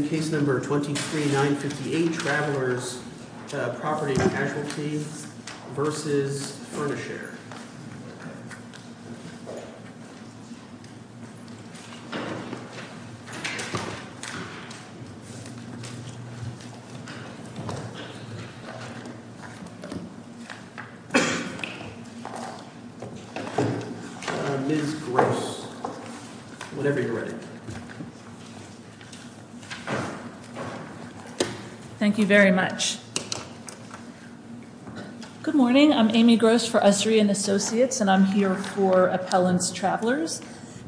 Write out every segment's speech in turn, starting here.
23-958 Travelers Property Casualty v. Furnishare Thank you very much. Good morning. I'm Amy Gross for Ussery & Associates and I'm here for Appellants Travelers.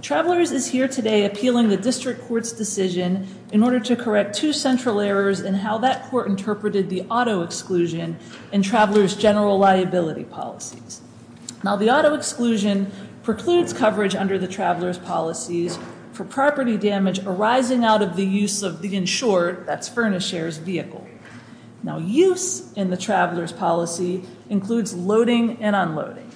Travelers is here today appealing the District Court's decision in order to correct two central errors in how that court interpreted the auto exclusion in Travelers General Liability Policies. Now the auto exclusion precludes coverage under the Travelers Policies for property damage arising out of the use of the insured, that's Furnishare's vehicle. Now use in the Travelers Policy includes loading and unloading.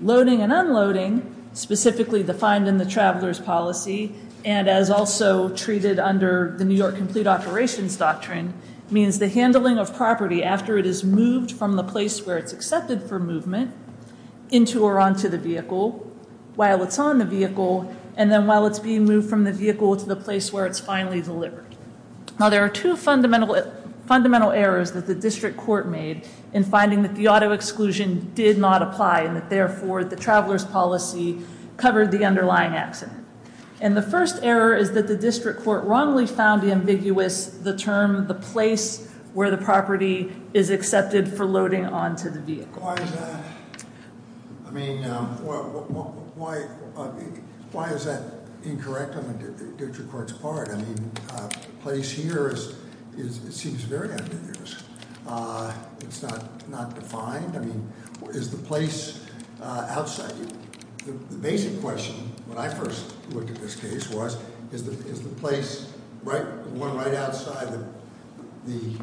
Loading and unloading specifically defined in the Travelers Policy and as also treated under the New York Complete Operations Doctrine means the handling of property after it is moved from the place where it's accepted for movement into or onto the vehicle, while it's on the vehicle, and then while it's being moved from the vehicle to the place where it's finally delivered. Now there are two fundamental errors that the District Court made in finding that the auto exclusion did not apply and that therefore the Travelers Policy covered the underlying accident. And the first error is that the District Court wrongly found ambiguous the term the place where the property is accepted for loading onto the vehicle. Why is that? I mean, why is that incorrect on the District Court's part? I mean, place here is, it seems very ambiguous. It's not defined. I mean, is the place outside? The basic question when I first looked at this case was, is the place right, the one right outside the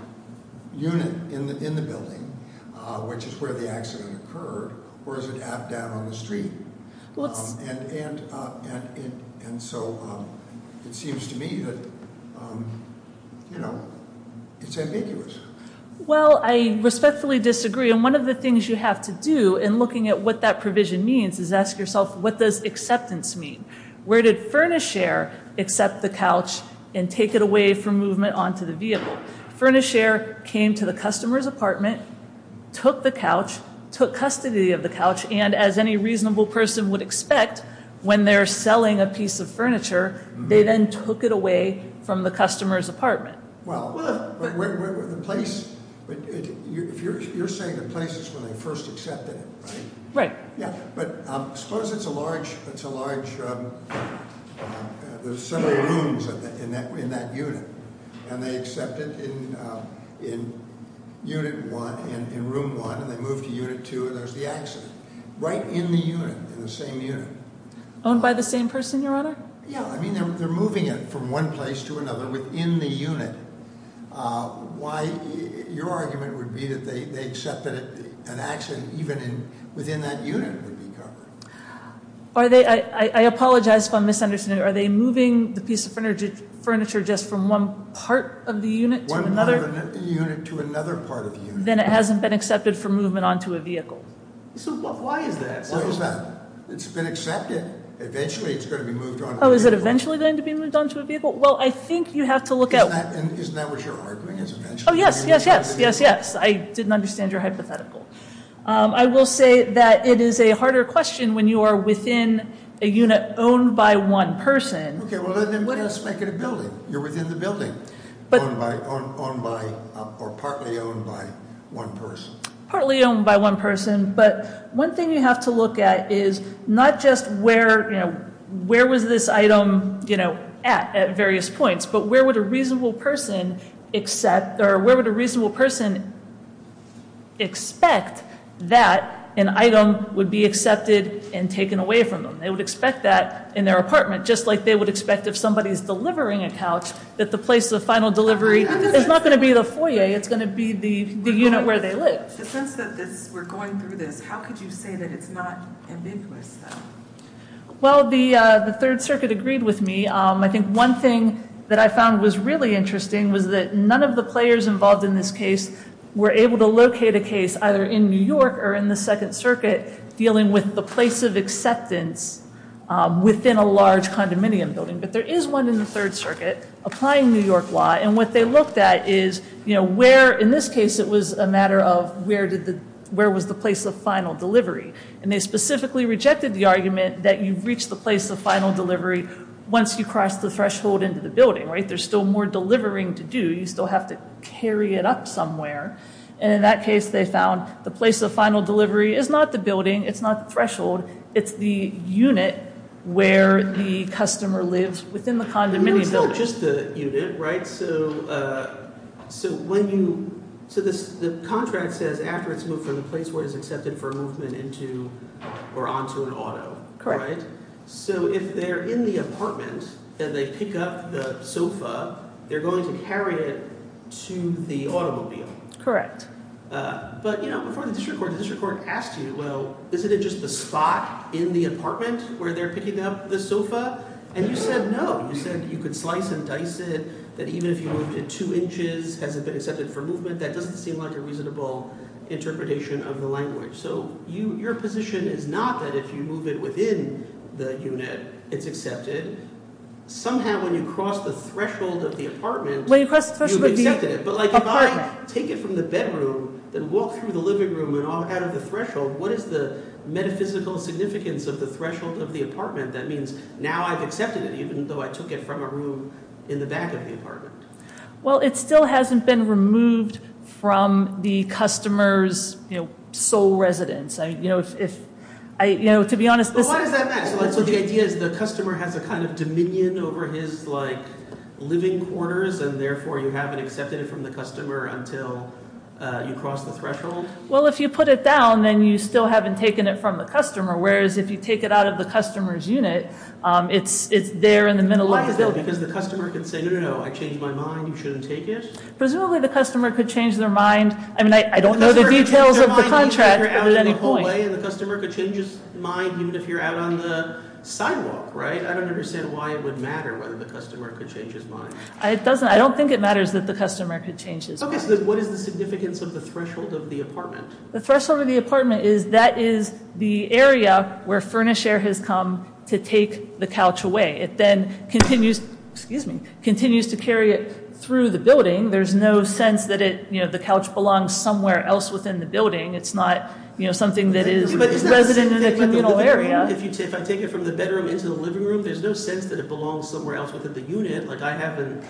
unit in the building, which is where the accident occurred, or is it down on the street? And so it seems to me that, you know, it's ambiguous. Well, I respectfully disagree, and one of the things you have to do in looking at what that provision means is ask yourself, what does acceptance mean? Where did Furnisher accept the couch and take it away from movement onto the vehicle? Furnisher came to the customer's apartment, took the couch, took custody of the couch, and as any reasonable person would expect when they're selling a piece of furniture, they then took it away from the customer's apartment. Well, the place, you're saying the place is where they first accepted it, right? Right. Yeah, but suppose it's a large, there's several rooms in that unit, and they accept it in unit one, in room one, and they move to unit two, and there's the accident right in the unit, in the same unit. Owned by the same person, Your Honor? Yeah, I mean, they're moving it from one place to another within the unit. Why, your argument would be that they accepted an accident even within that unit would be covered. Are they, I apologize for my misunderstanding, are they moving the piece of furniture just from one part of the unit to another? One part of the unit to another part of the unit. Then it hasn't been accepted for movement onto a vehicle. So why is that? Why is that? It's been accepted. Eventually it's going to be moved onto a vehicle. Oh, is it eventually going to be moved onto a vehicle? Well, I think you have to look at- Isn't that what you're arguing? Oh, yes, yes, yes, yes, yes. I didn't understand your hypothetical. I will say that it is a harder question when you are within a unit owned by one person. Okay, well, let's make it a building. You're within the building, owned by, or partly owned by one person. Partly owned by one person, but one thing you have to look at is not just where, you know, where was this item, you know, at, at various points, but where would a reasonable person accept, or where would a reasonable person expect that an item would be accepted and taken away from them? They would expect that in their apartment, just like they would expect if somebody is delivering a couch, that the place of final delivery is not going to be the foyer. It's going to be the unit where they live. The sense that we're going through this, how could you say that it's not ambiguous, though? Well, the Third Circuit agreed with me. I think one thing that I found was really interesting was that none of the players involved in this case were able to locate a case, either in New York or in the Second Circuit, dealing with the place of acceptance within a large condominium building. But there is one in the Third Circuit applying New York law, and what they looked at is, you know, where, in this case, it was a matter of where did the, where was the place of final delivery? And they specifically rejected the argument that you reach the place of final delivery once you cross the threshold into the building, right? There's still more delivering to do. You still have to carry it up somewhere. And in that case, they found the place of final delivery is not the building. It's not the threshold. It's the unit where the customer lives within the condominium building. It's not just the unit, right? So when you, so the contract says after it's moved from the place where it is accepted for movement into or onto an auto, right? Correct. So if they're in the apartment and they pick up the sofa, they're going to carry it to the automobile. Correct. But, you know, before the district court, the district court asked you, well, isn't it just the spot in the apartment where they're picking up the sofa? And you said no. You said you could slice and dice it, that even if you moved it two inches, has it been accepted for movement? That doesn't seem like a reasonable interpretation of the language. So your position is not that if you move it within the unit, it's accepted. Somehow when you cross the threshold of the apartment, you've accepted it. But, like, if I take it from the bedroom, then walk through the living room and out of the threshold, what is the metaphysical significance of the threshold of the apartment? That means now I've accepted it, even though I took it from a room in the back of the apartment. Well, it still hasn't been removed from the customer's, you know, sole residence. You know, if I, you know, to be honest. But why does that matter? So the idea is the customer has a kind of dominion over his, like, living quarters, and therefore you haven't accepted it from the customer until you cross the threshold? Well, if you put it down, then you still haven't taken it from the customer, whereas if you take it out of the customer's unit, it's there in the middle of the building. Why is that? Because the customer could say, no, no, no, I changed my mind, you shouldn't take it? Presumably the customer could change their mind. I mean, I don't know the details of the contract, but at any point. And the customer could change his mind, even if you're out on the sidewalk, right? I don't understand why it would matter whether the customer could change his mind. It doesn't. I don't think it matters that the customer could change his mind. Okay, so what is the significance of the threshold of the apartment? The threshold of the apartment is that is the area where furnish air has come to take the couch away. It then continues, excuse me, continues to carry it through the building. There's no sense that it, you know, the couch belongs somewhere else within the building. It's not, you know, something that is resident in a communal area. If I take it from the bedroom into the living room, there's no sense that it belongs somewhere else within the unit. Like I haven't,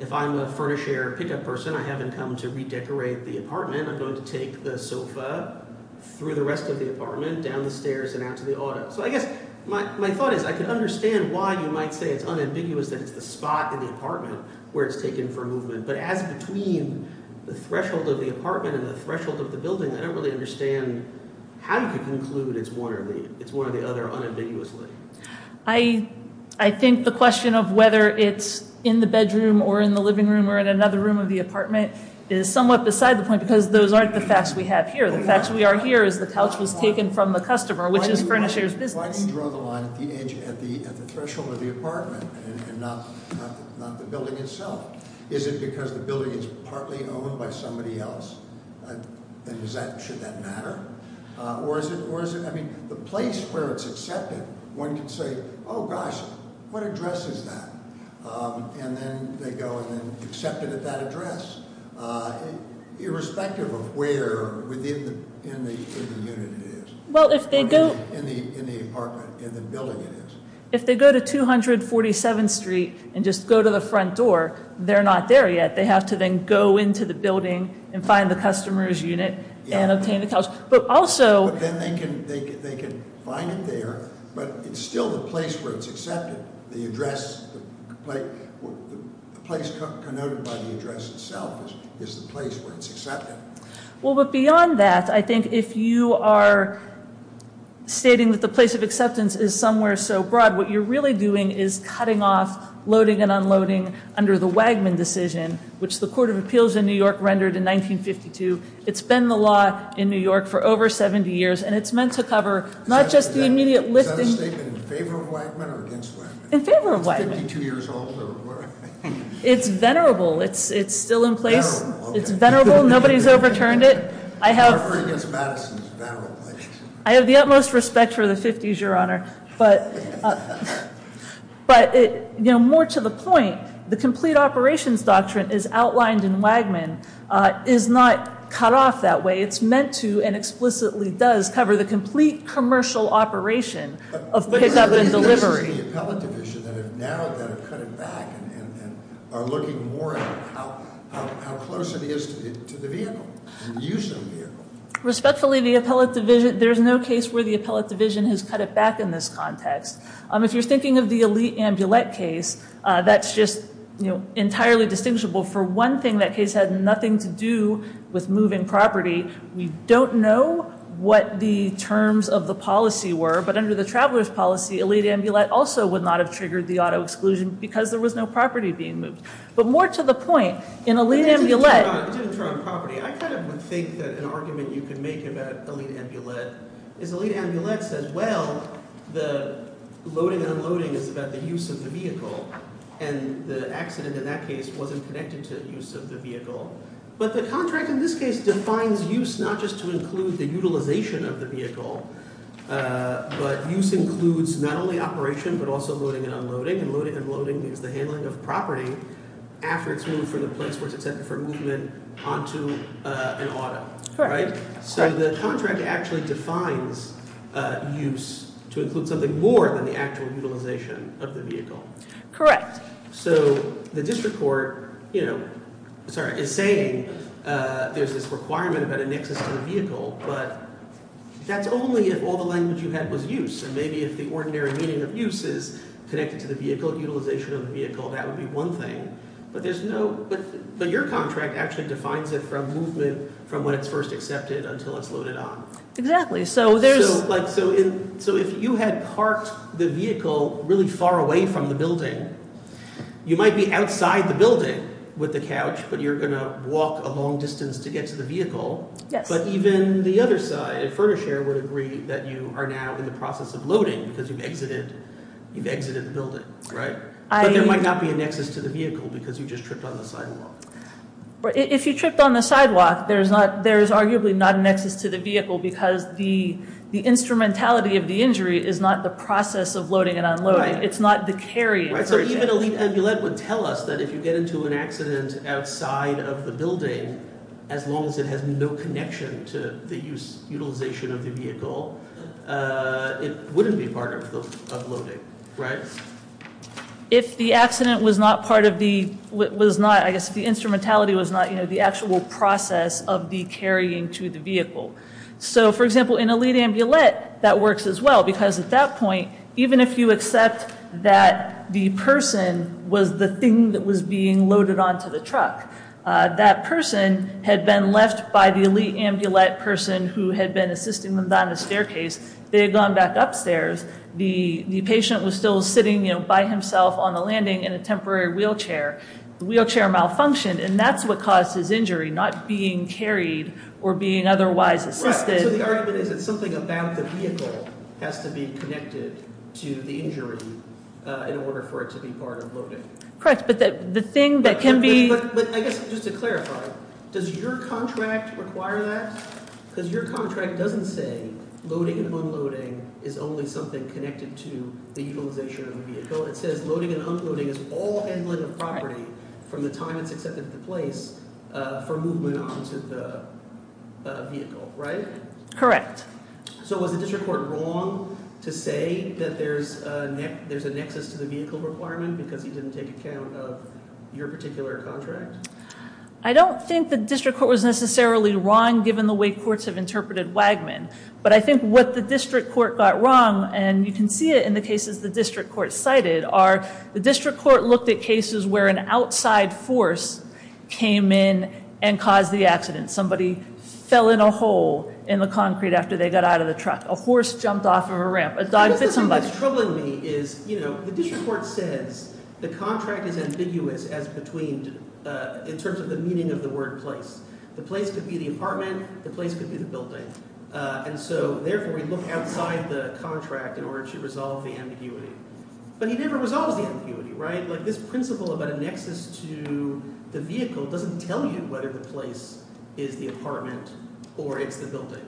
if I'm a furnish air pickup person, I haven't come to redecorate the apartment. I'm going to take the sofa through the rest of the apartment down the stairs and out to the auto. So I guess my thought is I can understand why you might say it's unambiguous that it's the spot in the apartment where it's taken for movement. But as between the threshold of the apartment and the threshold of the building, I don't really understand how you could conclude it's one or the other unambiguously. I think the question of whether it's in the bedroom or in the living room or in another room of the apartment is somewhat beside the point because those aren't the facts we have here. The facts we are here is the couch was taken from the customer, which is furnish air's business. If I can draw the line at the threshold of the apartment and not the building itself, is it because the building is partly owned by somebody else? And should that matter? Or is it, I mean, the place where it's accepted, one can say, gosh, what address is that? And then they go and accept it at that address, irrespective of where within the unit it is. Well, if they go- In the apartment, in the building it is. If they go to 247th Street and just go to the front door, they're not there yet. They have to then go into the building and find the customer's unit and obtain the couch. But also- But then they can find it there, but it's still the place where it's accepted. The address, the place connoted by the address itself is the place where it's accepted. Well, but beyond that, I think if you are stating that the place of acceptance is somewhere so broad, what you're really doing is cutting off, loading and unloading under the Wagman decision, which the Court of Appeals in New York rendered in 1952. It's been the law in New York for over 70 years, and it's meant to cover not just the immediate lifting- Is that a statement in favor of Wagman or against Wagman? In favor of Wagman. Is it 52 years old or what? It's venerable. It's still in place. Venerable, okay. It's venerable. Nobody's overturned it. I have- In favor against Madison, it's venerable. I have the utmost respect for the 50s, Your Honor. But more to the point, the complete operations doctrine as outlined in Wagman is not cut off that way. It's meant to and explicitly does cover the complete commercial operation of pickup and delivery. Now that have cut it back and are looking more at how close it is to the vehicle and the use of the vehicle. Respectfully, there's no case where the appellate division has cut it back in this context. If you're thinking of the Elite Ambulette case, that's just entirely distinguishable. For one thing, that case had nothing to do with moving property. We don't know what the terms of the policy were, but under the traveler's policy, Elite Ambulette also would not have triggered the auto exclusion because there was no property being moved. But more to the point, in Elite Ambulette- It didn't turn on property. I kind of would think that an argument you could make about Elite Ambulette is Elite Ambulette says, well, the loading and unloading is about the use of the vehicle. And the accident in that case wasn't connected to the use of the vehicle. But the contract in this case defines use not just to include the utilization of the vehicle, but use includes not only operation, but also loading and unloading. And loading and unloading is the handling of property after it's moved from the place where it's intended for movement onto an auto. So the contract actually defines use to include something more than the actual utilization of the vehicle. Correct. So the district court is saying there's this requirement about a nexus to the vehicle, but that's only if all the language you had was use. And maybe if the ordinary meaning of use is connected to the vehicle, utilization of the vehicle, that would be one thing. But your contract actually defines it from movement from when it's first accepted until it's loaded on. Exactly. So if you had parked the vehicle really far away from the building, you might be outside the building with the couch, but you're going to walk a long distance to get to the vehicle. Yes. But even the other side, Furnish Air would agree that you are now in the process of loading because you've exited the building, right? But there might not be a nexus to the vehicle because you just tripped on the sidewalk. If you tripped on the sidewalk, there's arguably not a nexus to the vehicle because the instrumentality of the injury is not the process of loading and unloading. It's not the carrying. Right, so even a lead ambulant would tell us that if you get into an accident outside of the building, as long as it has no connection to the utilization of the vehicle, it wouldn't be part of loading, right? If the accident was not part of the, was not, I guess the instrumentality was not the actual process of the carrying to the vehicle. So, for example, in a lead ambulant, that works as well because at that point, even if you accept that the person was the thing that was being loaded onto the truck, that person had been left by the lead ambulant person who had been assisting them down the staircase. They had gone back upstairs. The patient was still sitting by himself on the landing in a temporary wheelchair. The wheelchair malfunctioned, and that's what caused his injury, not being carried or being otherwise assisted. Right, so the argument is that something about the vehicle has to be connected to the injury in order for it to be part of loading. Correct, but the thing that can be – But I guess just to clarify, does your contract require that? Because your contract doesn't say loading and unloading is only something connected to the utilization of the vehicle. It says loading and unloading is all handling of property from the time it's accepted into place for movement onto the vehicle, right? Correct. So was the district court wrong to say that there's a nexus to the vehicle requirement because he didn't take account of your particular contract? I don't think the district court was necessarily wrong given the way courts have interpreted Wagman, but I think what the district court got wrong, and you can see it in the cases the district court cited, are the district court looked at cases where an outside force came in and caused the accident. Somebody fell in a hole in the concrete after they got out of the truck. A horse jumped off of a ramp. A dog bit somebody. What's troubling me is the district court says the contract is ambiguous as between – in terms of the meaning of the word place. The place could be the apartment. The place could be the building, and so therefore we look outside the contract in order to resolve the ambiguity. But he never resolves the ambiguity, right? This principle about a nexus to the vehicle doesn't tell you whether the place is the apartment or it's the building,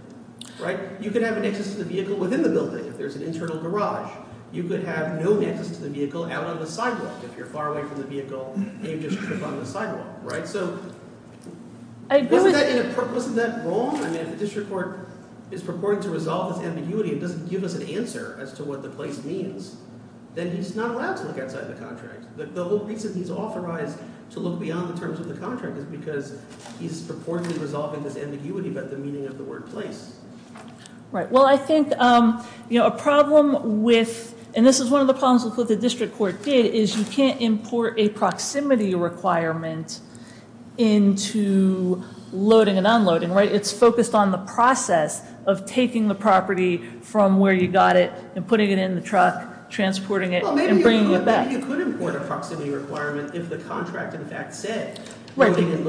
right? You could have a nexus to the vehicle within the building if there's an internal garage. You could have no nexus to the vehicle out on the sidewalk if you're far away from the vehicle and you just trip on the sidewalk, right? So isn't that wrong? I mean if the district court is purporting to resolve this ambiguity and doesn't give us an answer as to what the place means, then he's not allowed to look outside the contract. The whole reason he's authorized to look beyond the terms of the contract is because he's purportedly resolving this ambiguity about the meaning of the word place. Right. Well, I think a problem with – and this is one of the problems with what the district court did – is you can't import a proximity requirement into loading and unloading, right? It's focused on the process of taking the property from where you got it and putting it in the truck, transporting it, and bringing it back. Well, maybe you could import a proximity requirement if the contract, in fact, said loading and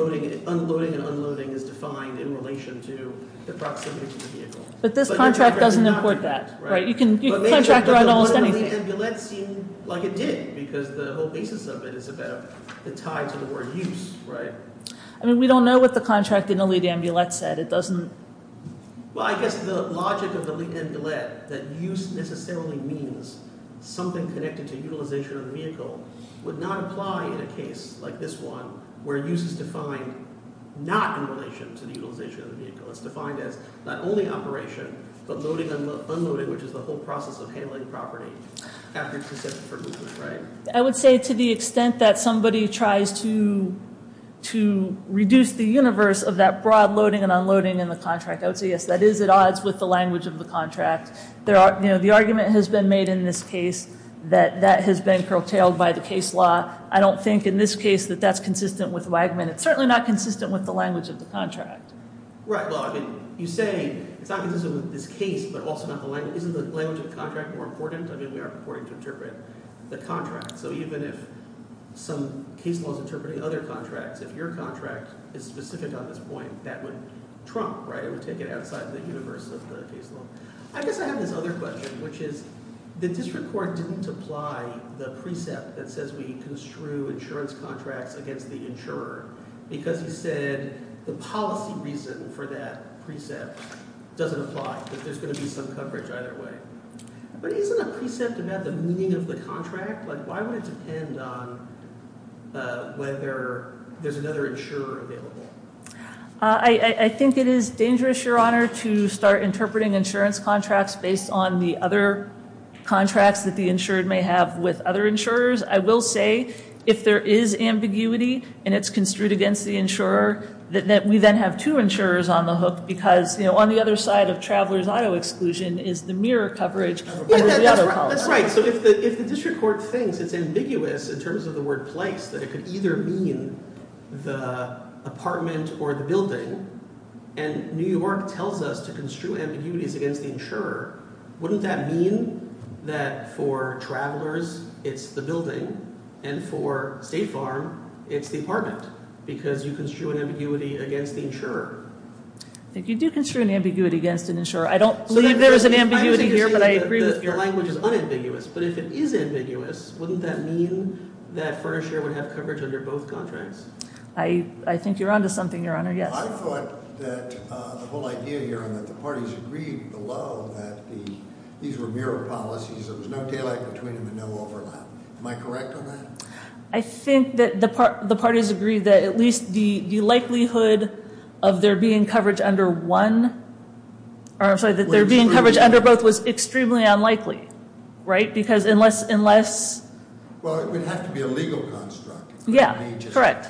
unloading is defined in relation to the proximity to the vehicle. But this contract doesn't import that, right? You can contract around almost anything. But what did the amulet seem like it did? Because the whole basis of it is about the tie to the word use, right? I mean we don't know what the contract in the lead amulet said. It doesn't – Well, I guess the logic of the lead amulet, that use necessarily means something connected to utilization of the vehicle, would not apply in a case like this one where use is defined not in relation to the utilization of the vehicle. It's defined as not only operation but loading and unloading, which is the whole process of handling property after it's accepted for movement, right? I would say to the extent that somebody tries to reduce the universe of that broad loading and unloading in the contract, I would say yes, that is at odds with the language of the contract. The argument has been made in this case that that has been curtailed by the case law. I don't think in this case that that's consistent with Wagman. It's certainly not consistent with the language of the contract. Right, well, I mean you say it's not consistent with this case but also not the language. Isn't the language of the contract more important? I mean we are purporting to interpret the contract. So even if some case law is interpreting other contracts, if your contract is specific on this point, that would trump, right? It would take it outside the universe of the case law. I guess I have this other question, which is the district court didn't apply the precept that says we construe insurance contracts against the insurer because he said the policy reason for that precept doesn't apply, that there's going to be some coverage either way. But isn't a precept about the meaning of the contract? Like why would it depend on whether there's another insurer available? I think it is dangerous, Your Honor, to start interpreting insurance contracts based on the other contracts that the insured may have with other insurers. I will say if there is ambiguity and it's construed against the insurer, that we then have two insurers on the hook because on the other side of traveler's auto exclusion is the mirror coverage of the auto policy. That's right. So if the district court thinks it's ambiguous in terms of the word place that it could either mean the apartment or the building and New York tells us to construe ambiguities against the insurer, wouldn't that mean that for travelers it's the building and for State Farm it's the apartment because you construe an ambiguity against the insurer? I think you do construe an ambiguity against an insurer. I don't believe there is an ambiguity here, but I agree with you. Your language is unambiguous, but if it is ambiguous, wouldn't that mean that Furniture would have coverage under both contracts? I think you're on to something, Your Honor, yes. I thought that the whole idea here and that the parties agreed below that these were mirror policies. There was no tailing between them and no overlap. Am I correct on that? I think that the parties agreed that at least the likelihood of there being coverage under one or I'm sorry, that there being coverage under both was extremely unlikely, right, because unless Well, it would have to be a legal construct. Yeah, correct.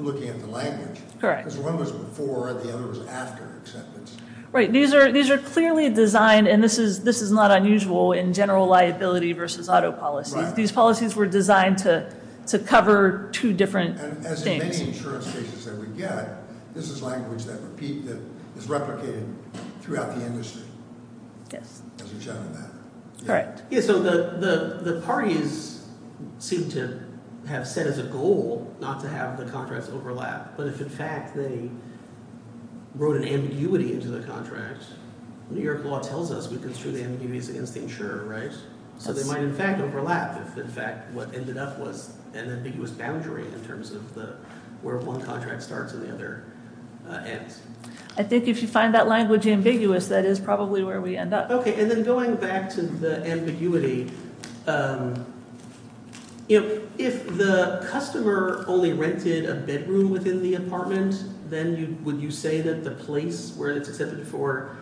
Looking at the language. Correct. Because one was before and the other was after acceptance. Right. These are clearly designed, and this is not unusual in general liability versus auto policies. Right. These policies were designed to cover two different things. And as in many insurance cases that we get, this is language that is replicated throughout the industry. Yes. As we've shown in that. Correct. Yeah, so the parties seem to have set as a goal not to have the contracts overlap, but if in fact they wrote an ambiguity into the contract, New York law tells us we construe the ambiguities against the insurer, right? So they might in fact overlap if in fact what ended up was an ambiguous boundary in terms of where one contract starts and the other ends. I think if you find that language ambiguous, that is probably where we end up. Okay. And then going back to the ambiguity, if the customer only rented a bedroom within the apartment, then would you say that the place where it's accepted for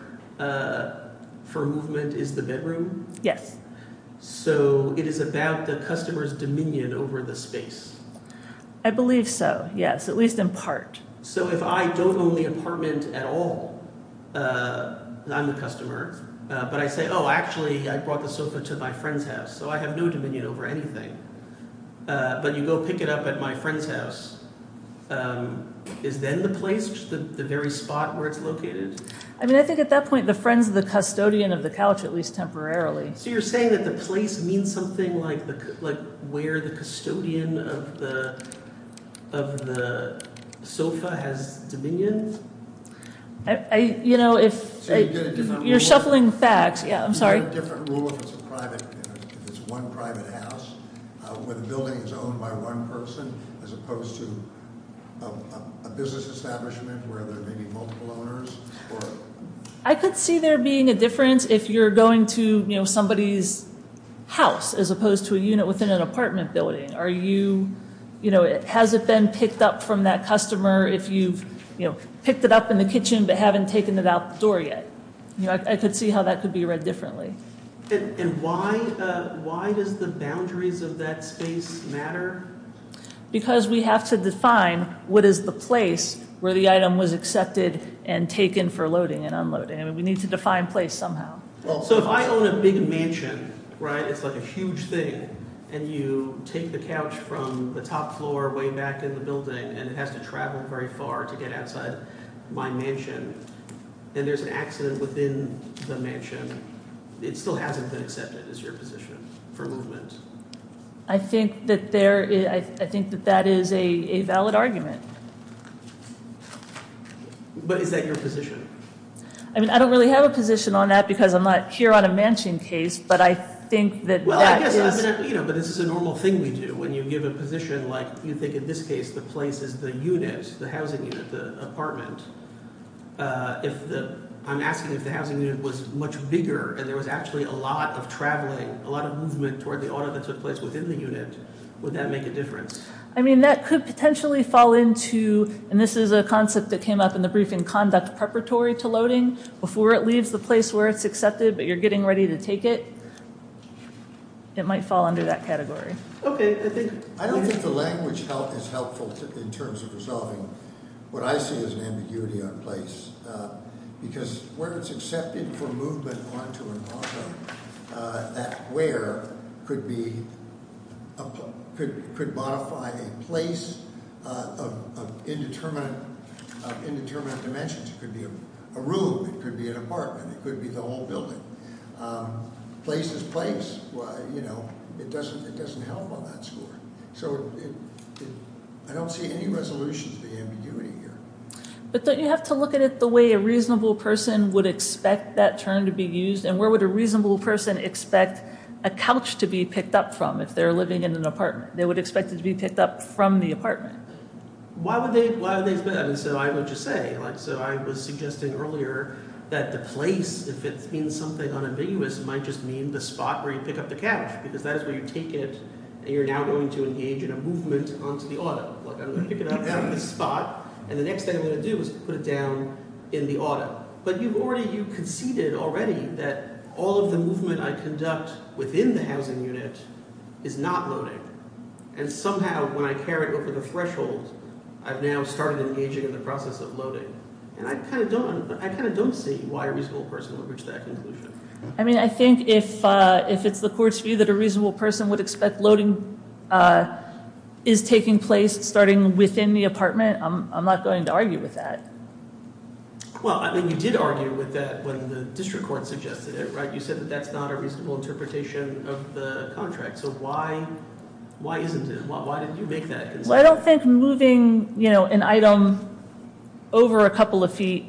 movement is the bedroom? Yes. So it is about the customer's dominion over the space? I believe so, yes, at least in part. So if I don't own the apartment at all, I'm the customer, but I say, oh, actually I brought the sofa to my friend's house, so I have no dominion over anything. But you go pick it up at my friend's house, is then the place, the very spot where it's located? I mean, I think at that point the friend's the custodian of the couch, at least temporarily. So you're saying that the place means something like where the custodian of the sofa has dominion? You know, if you're shuffling facts, yeah, I'm sorry. Is there a different rule if it's one private house where the building is owned by one person as opposed to a business establishment where there may be multiple owners? I could see there being a difference if you're going to somebody's house as opposed to a unit within an apartment building. Has it been picked up from that customer if you've picked it up in the kitchen but haven't taken it out the door yet? I could see how that could be read differently. And why does the boundaries of that space matter? Because we have to define what is the place where the item was accepted and taken for loading and unloading. I mean, we need to define place somehow. So if I own a big mansion, right, it's like a huge thing, and you take the couch from the top floor way back in the building and it has to travel very far to get outside my mansion, and there's an accident within the mansion, it still hasn't been accepted as your position for movement? I think that that is a valid argument. But is that your position? I mean, I don't really have a position on that because I'm not here on a mansion case, but I think that that is- Well, I guess, you know, but this is a normal thing we do when you give a position like you think in this case the place is the unit, the housing unit, the apartment. I'm asking if the housing unit was much bigger and there was actually a lot of traveling, a lot of movement toward the auto that took place within the unit, would that make a difference? I mean, that could potentially fall into, and this is a concept that came up in the briefing conduct preparatory to loading. Before it leaves the place where it's accepted, but you're getting ready to take it, it might fall under that category. Okay. I don't think the language is helpful in terms of resolving what I see as an ambiguity on place. Because where it's accepted for movement onto an auto, that where could modify a place of indeterminate dimensions. It could be a room, it could be an apartment, it could be the whole building. Place is place. You know, it doesn't help on that score. So, I don't see any resolution to the ambiguity here. But don't you have to look at it the way a reasonable person would expect that term to be used? And where would a reasonable person expect a couch to be picked up from if they're living in an apartment? Why would they – so I would just say – so I was suggesting earlier that the place, if it means something unambiguous, might just mean the spot where you pick up the couch. Because that is where you take it, and you're now going to engage in a movement onto the auto. I'm going to pick it up from this spot, and the next thing I'm going to do is put it down in the auto. But you've already – you conceded already that all of the movement I conduct within the housing unit is not loading. And somehow when I carry it over the threshold, I've now started engaging in the process of loading. And I kind of don't – I kind of don't see why a reasonable person would reach that conclusion. I mean I think if it's the court's view that a reasonable person would expect loading is taking place starting within the apartment, I'm not going to argue with that. Well, I mean you did argue with that when the district court suggested it. You said that that's not a reasonable interpretation of the contract. So why isn't it? Why didn't you make that concession? Well, I don't think moving an item over a couple of feet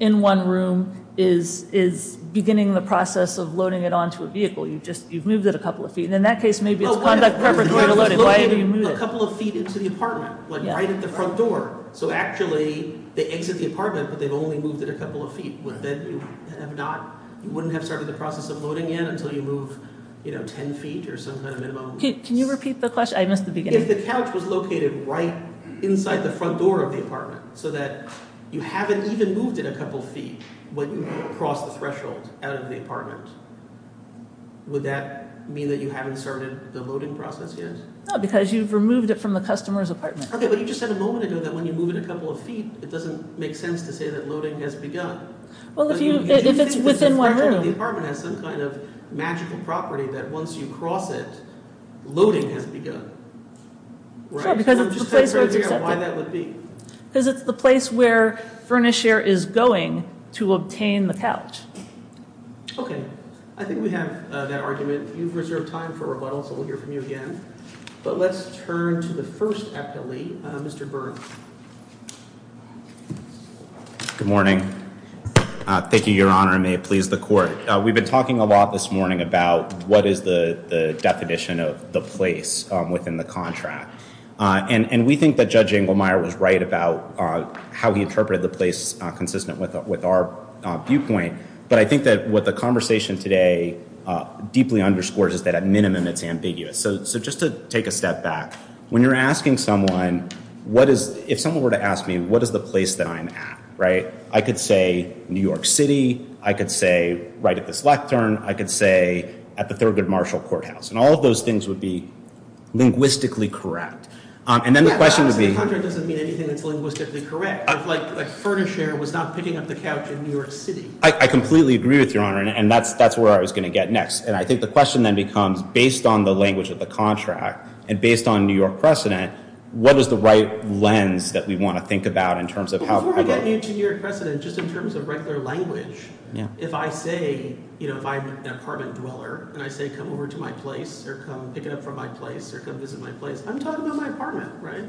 in one room is beginning the process of loading it onto a vehicle. You've just – you've moved it a couple of feet. And in that case, maybe it's conduct perfectly unloaded. Why haven't you moved it? A couple of feet into the apartment, like right at the front door. So actually they exit the apartment, but they've only moved it a couple of feet. You wouldn't have started the process of loading yet until you move 10 feet or some kind of minimum. Can you repeat the question? I missed the beginning. If the couch was located right inside the front door of the apartment so that you haven't even moved it a couple of feet when you cross the threshold out of the apartment, would that mean that you haven't started the loading process yet? No, because you've removed it from the customer's apartment. Okay, but you just said a moment ago that when you move it a couple of feet, it doesn't make sense to say that loading has begun. Well, if you – if it's within one room. Do you think the threshold in the apartment has some kind of magical property that once you cross it, loading has begun? Sure, because it's the place where it's accepted. I'm just trying to figure out why that would be. Because it's the place where furnish air is going to obtain the couch. Okay. I think we have that argument. You've reserved time for rebuttal, so we'll hear from you again. But let's turn to the first appellee, Mr. Burke. Good morning. Thank you, Your Honor, and may it please the court. We've been talking a lot this morning about what is the definition of the place within the contract. And we think that Judge Engelmeyer was right about how he interpreted the place consistent with our viewpoint. But I think that what the conversation today deeply underscores is that at minimum it's ambiguous. So just to take a step back, when you're asking someone what is – if someone were to ask me what is the place that I'm at, right, I could say New York City. I could say right at this lectern. I could say at the Thurgood Marshall Courthouse. And all of those things would be linguistically correct. And then the question would be – The contract doesn't mean anything that's linguistically correct. Like, furnish air was not picking up the couch in New York City. I completely agree with you, Your Honor, and that's where I was going to get next. And I think the question then becomes, based on the language of the contract and based on New York precedent, what is the right lens that we want to think about in terms of how – Before I get into New York precedent, just in terms of regular language, if I say – if I'm an apartment dweller and I say come over to my place or come pick it up from my place or come visit my place, I'm talking about my apartment, right?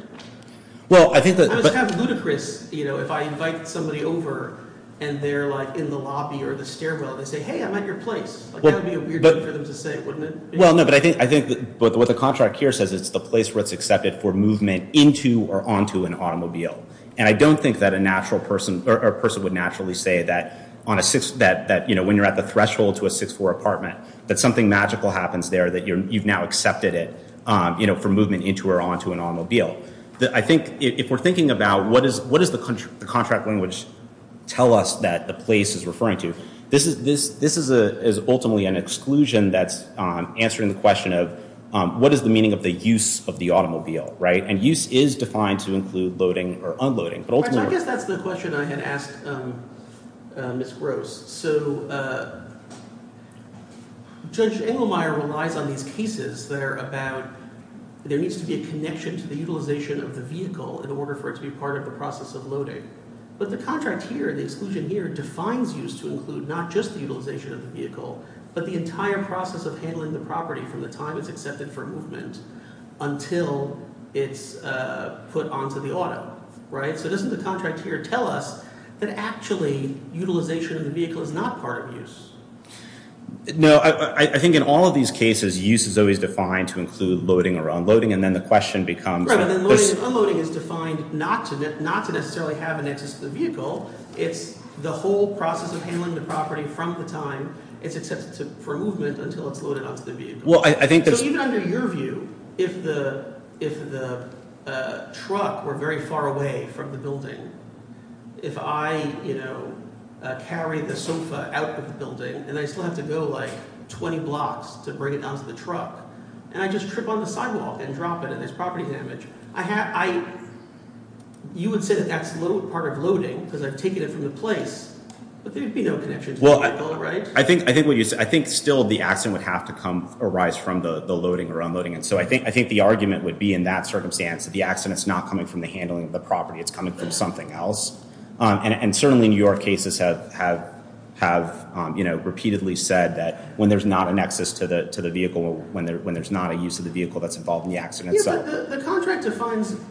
Well, I think that – It's kind of ludicrous if I invite somebody over and they're, like, in the lobby or the stairwell. They say, hey, I'm at your place. That would be a weird thing for them to say, wouldn't it? Well, no, but I think what the contract here says is it's the place where it's accepted for movement into or onto an automobile. And I don't think that a natural person – or a person would naturally say that on a – that, you know, when you're at the threshold to a 6-4 apartment, that something magical happens there that you've now accepted it, you know, for movement into or onto an automobile. I think if we're thinking about what does the contract language tell us that the place is referring to, this is ultimately an exclusion that's answering the question of what is the meaning of the use of the automobile, right? And use is defined to include loading or unloading. I guess that's the question I had asked Ms. Gross. So Judge Engelmeyer relies on these cases that are about – there needs to be a connection to the utilization of the vehicle in order for it to be part of the process of loading. But the contract here, the exclusion here, defines use to include not just the utilization of the vehicle but the entire process of handling the property from the time it's accepted for movement until it's put onto the auto, right? So doesn't the contract here tell us that actually utilization of the vehicle is not part of use? No. I think in all of these cases, use is always defined to include loading or unloading, and then the question becomes – Unloading is defined not to necessarily have an access to the vehicle. It's the whole process of handling the property from the time it's accepted for movement until it's loaded onto the vehicle. So even under your view, if the truck were very far away from the building, if I carry the sofa out of the building and I still have to go like 20 blocks to bring it down to the truck and I just trip on the sidewalk and drop it and there's property damage, you would say that that's part of loading because I've taken it from the place, but there would be no connection to the vehicle, right? I think still the accident would have to arise from the loading or unloading. And so I think the argument would be in that circumstance that the accident is not coming from the handling of the property. It's coming from something else. And certainly in your cases have repeatedly said that when there's not a nexus to the vehicle, when there's not a use of the vehicle, that's involved in the accident. Yeah, but the contract defines –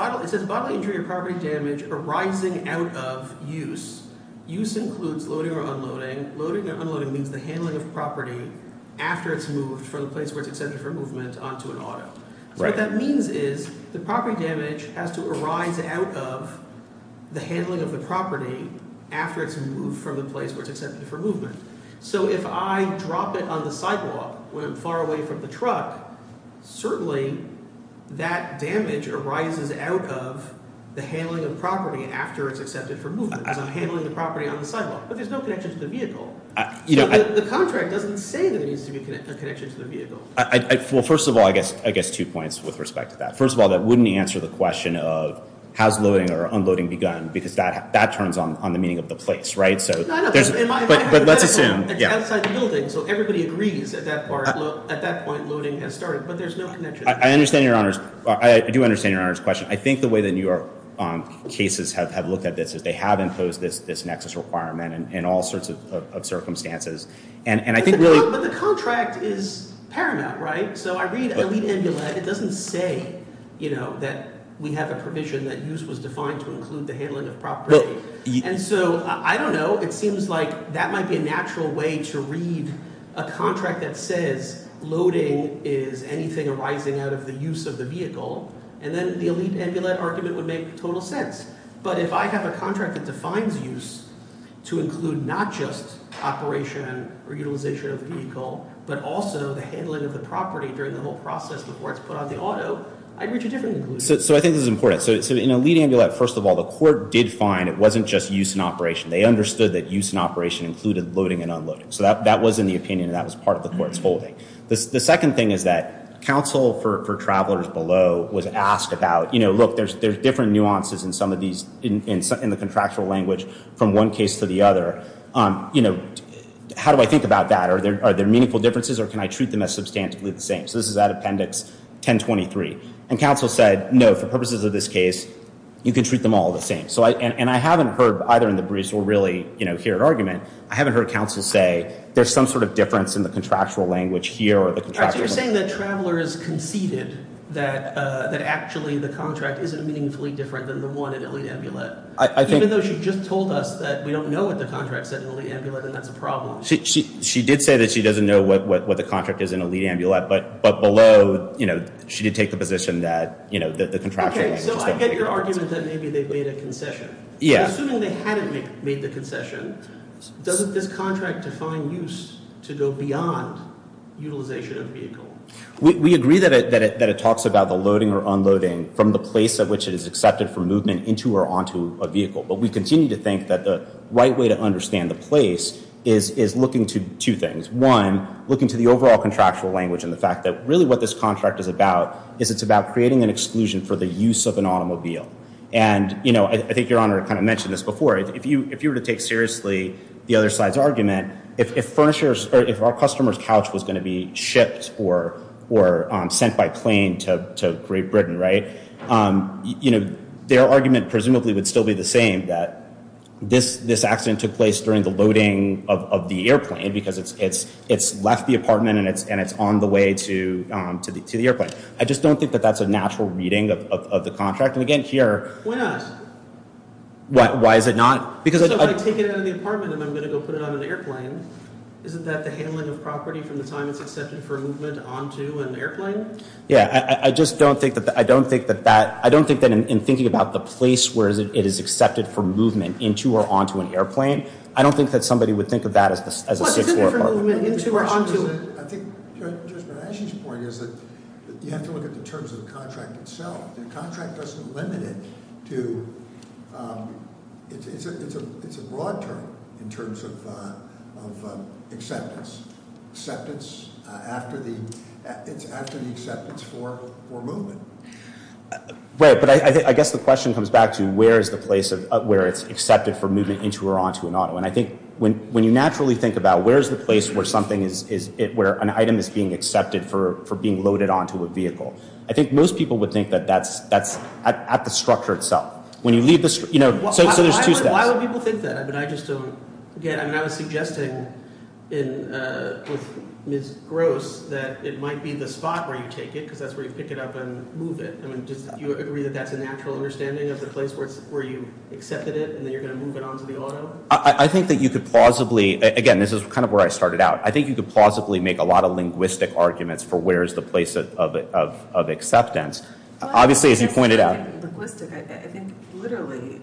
it says bodily injury or property damage arising out of use. Use includes loading or unloading. Loading or unloading means the handling of property after it's moved from the place where it's accepted for movement onto an auto. So what that means is the property damage has to arise out of the handling of the property after it's moved from the place where it's accepted for movement. So if I drop it on the sidewalk when I'm far away from the truck, certainly that damage arises out of the handling of property after it's accepted for movement because I'm handling the property on the sidewalk, but there's no connection to the vehicle. So the contract doesn't say there needs to be a connection to the vehicle. Well, first of all, I guess two points with respect to that. First of all, that wouldn't answer the question of how's loading or unloading begun because that turns on the meaning of the place, right? But let's assume – Outside the building, so everybody agrees at that point loading has started, but there's no connection. I understand Your Honor's – I do understand Your Honor's question. I think the way that your cases have looked at this is they have imposed this nexus requirement in all sorts of circumstances. But the contract is paramount, right? So I read elite amulet. It doesn't say that we have a provision that use was defined to include the handling of property. And so I don't know. It seems like that might be a natural way to read a contract that says loading is anything arising out of the use of the vehicle, and then the elite amulet argument would make total sense. But if I have a contract that defines use to include not just operation or utilization of the vehicle, but also the handling of the property during the whole process before it's put on the auto, I'd reach a different conclusion. So I think this is important. So in elite amulet, first of all, the court did find it wasn't just use and operation. They understood that use and operation included loading and unloading. So that was in the opinion, and that was part of the court's holding. And I said, look, there's different nuances in the contractual language from one case to the other. You know, how do I think about that? Are there meaningful differences, or can I treat them as substantively the same? So this is that appendix 1023. And counsel said, no, for purposes of this case, you can treat them all the same. And I haven't heard, either in the briefs or really here at argument, I haven't heard counsel say there's some sort of difference in the contractual language here. All right, so you're saying that Traveler has conceded that actually the contract isn't meaningfully different than the one in elite amulet. Even though she just told us that we don't know what the contract said in elite amulet, and that's a problem. She did say that she doesn't know what the contract is in elite amulet, but below, you know, she did take the position that, you know, the contractual language is different. Okay, so I get your argument that maybe they made a concession. Yeah. Assuming they hadn't made the concession, doesn't this contract define use to go beyond utilization of vehicle? We agree that it talks about the loading or unloading from the place at which it is accepted for movement into or onto a vehicle. But we continue to think that the right way to understand the place is looking to two things. One, looking to the overall contractual language and the fact that really what this contract is about is it's about creating an exclusion for the use of an automobile. And, you know, I think Your Honor kind of mentioned this before. If you were to take seriously the other side's argument, if our customer's couch was going to be shipped or sent by plane to Great Britain, right, you know, their argument presumably would still be the same, that this accident took place during the loading of the airplane because it's left the apartment and it's on the way to the airplane. I just don't think that that's a natural reading of the contract. And again, here. Why not? Why is it not? So if I take it out of the apartment and I'm going to go put it on an airplane, isn't that the handling of property from the time it's accepted for movement onto an airplane? Yeah, I just don't think that that – I don't think that in thinking about the place where it is accepted for movement into or onto an airplane, I don't think that somebody would think of that as a six-floor apartment. I think Judge Bernaschi's point is that you have to look at the terms of the contract itself. The contract doesn't limit it to – it's a broad term in terms of acceptance. Acceptance after the – it's after the acceptance for movement. Right, but I guess the question comes back to where is the place where it's accepted for movement into or onto an auto. And I think when you naturally think about where is the place where something is – where an item is being accepted for being loaded onto a vehicle, I think most people would think that that's at the structure itself. When you leave the – so there's two steps. Why would people think that? But I just don't get – I mean I was suggesting with Ms. Gross that it might be the spot where you take it because that's where you pick it up and move it. I mean do you agree that that's a natural understanding of the place where you accepted it and then you're going to move it onto the auto? I think that you could plausibly – again, this is kind of where I started out. I think you could plausibly make a lot of linguistic arguments for where is the place of acceptance. Obviously, as you pointed out – Logistic, I think literally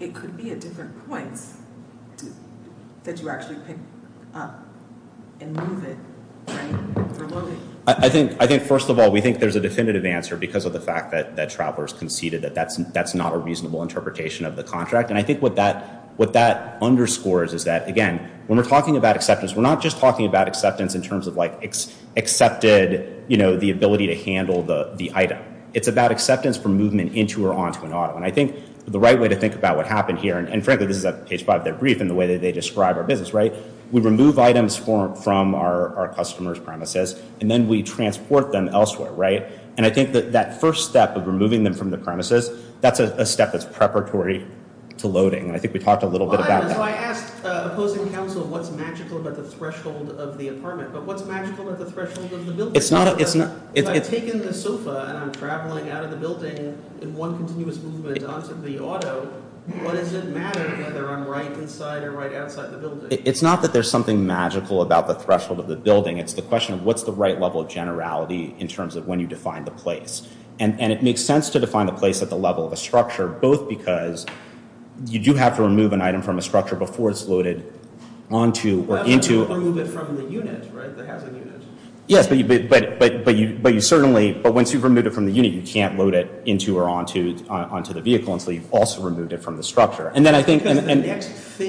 it could be at different points that you actually pick up and move it for loading. I think first of all we think there's a definitive answer because of the fact that Travelers conceded that that's not a reasonable interpretation of the contract. And I think what that underscores is that, again, when we're talking about acceptance, we're not just talking about acceptance in terms of like accepted, you know, the ability to handle the item. It's about acceptance for movement into or onto an auto. And I think the right way to think about what happened here – and frankly this is at page five of their brief and the way that they describe our business, right? We remove items from our customers' premises and then we transport them elsewhere, right? And I think that that first step of removing them from the premises, that's a step that's preparatory to loading. And I think we talked a little bit about that. So I asked opposing counsel what's magical about the threshold of the apartment. But what's magical about the threshold of the building? It's not – If I've taken the sofa and I'm traveling out of the building in one continuous movement onto the auto, what does it matter whether I'm right inside or right outside the building? It's not that there's something magical about the threshold of the building. It's the question of what's the right level of generality in terms of when you define the place. And it makes sense to define the place at the level of a structure, both because you do have to remove an item from a structure before it's loaded onto or into – Well, you remove it from the unit, right, that has a unit. Yes, but you certainly – but once you've removed it from the unit, you can't load it into or onto the vehicle until you've also removed it from the structure. And then I think – If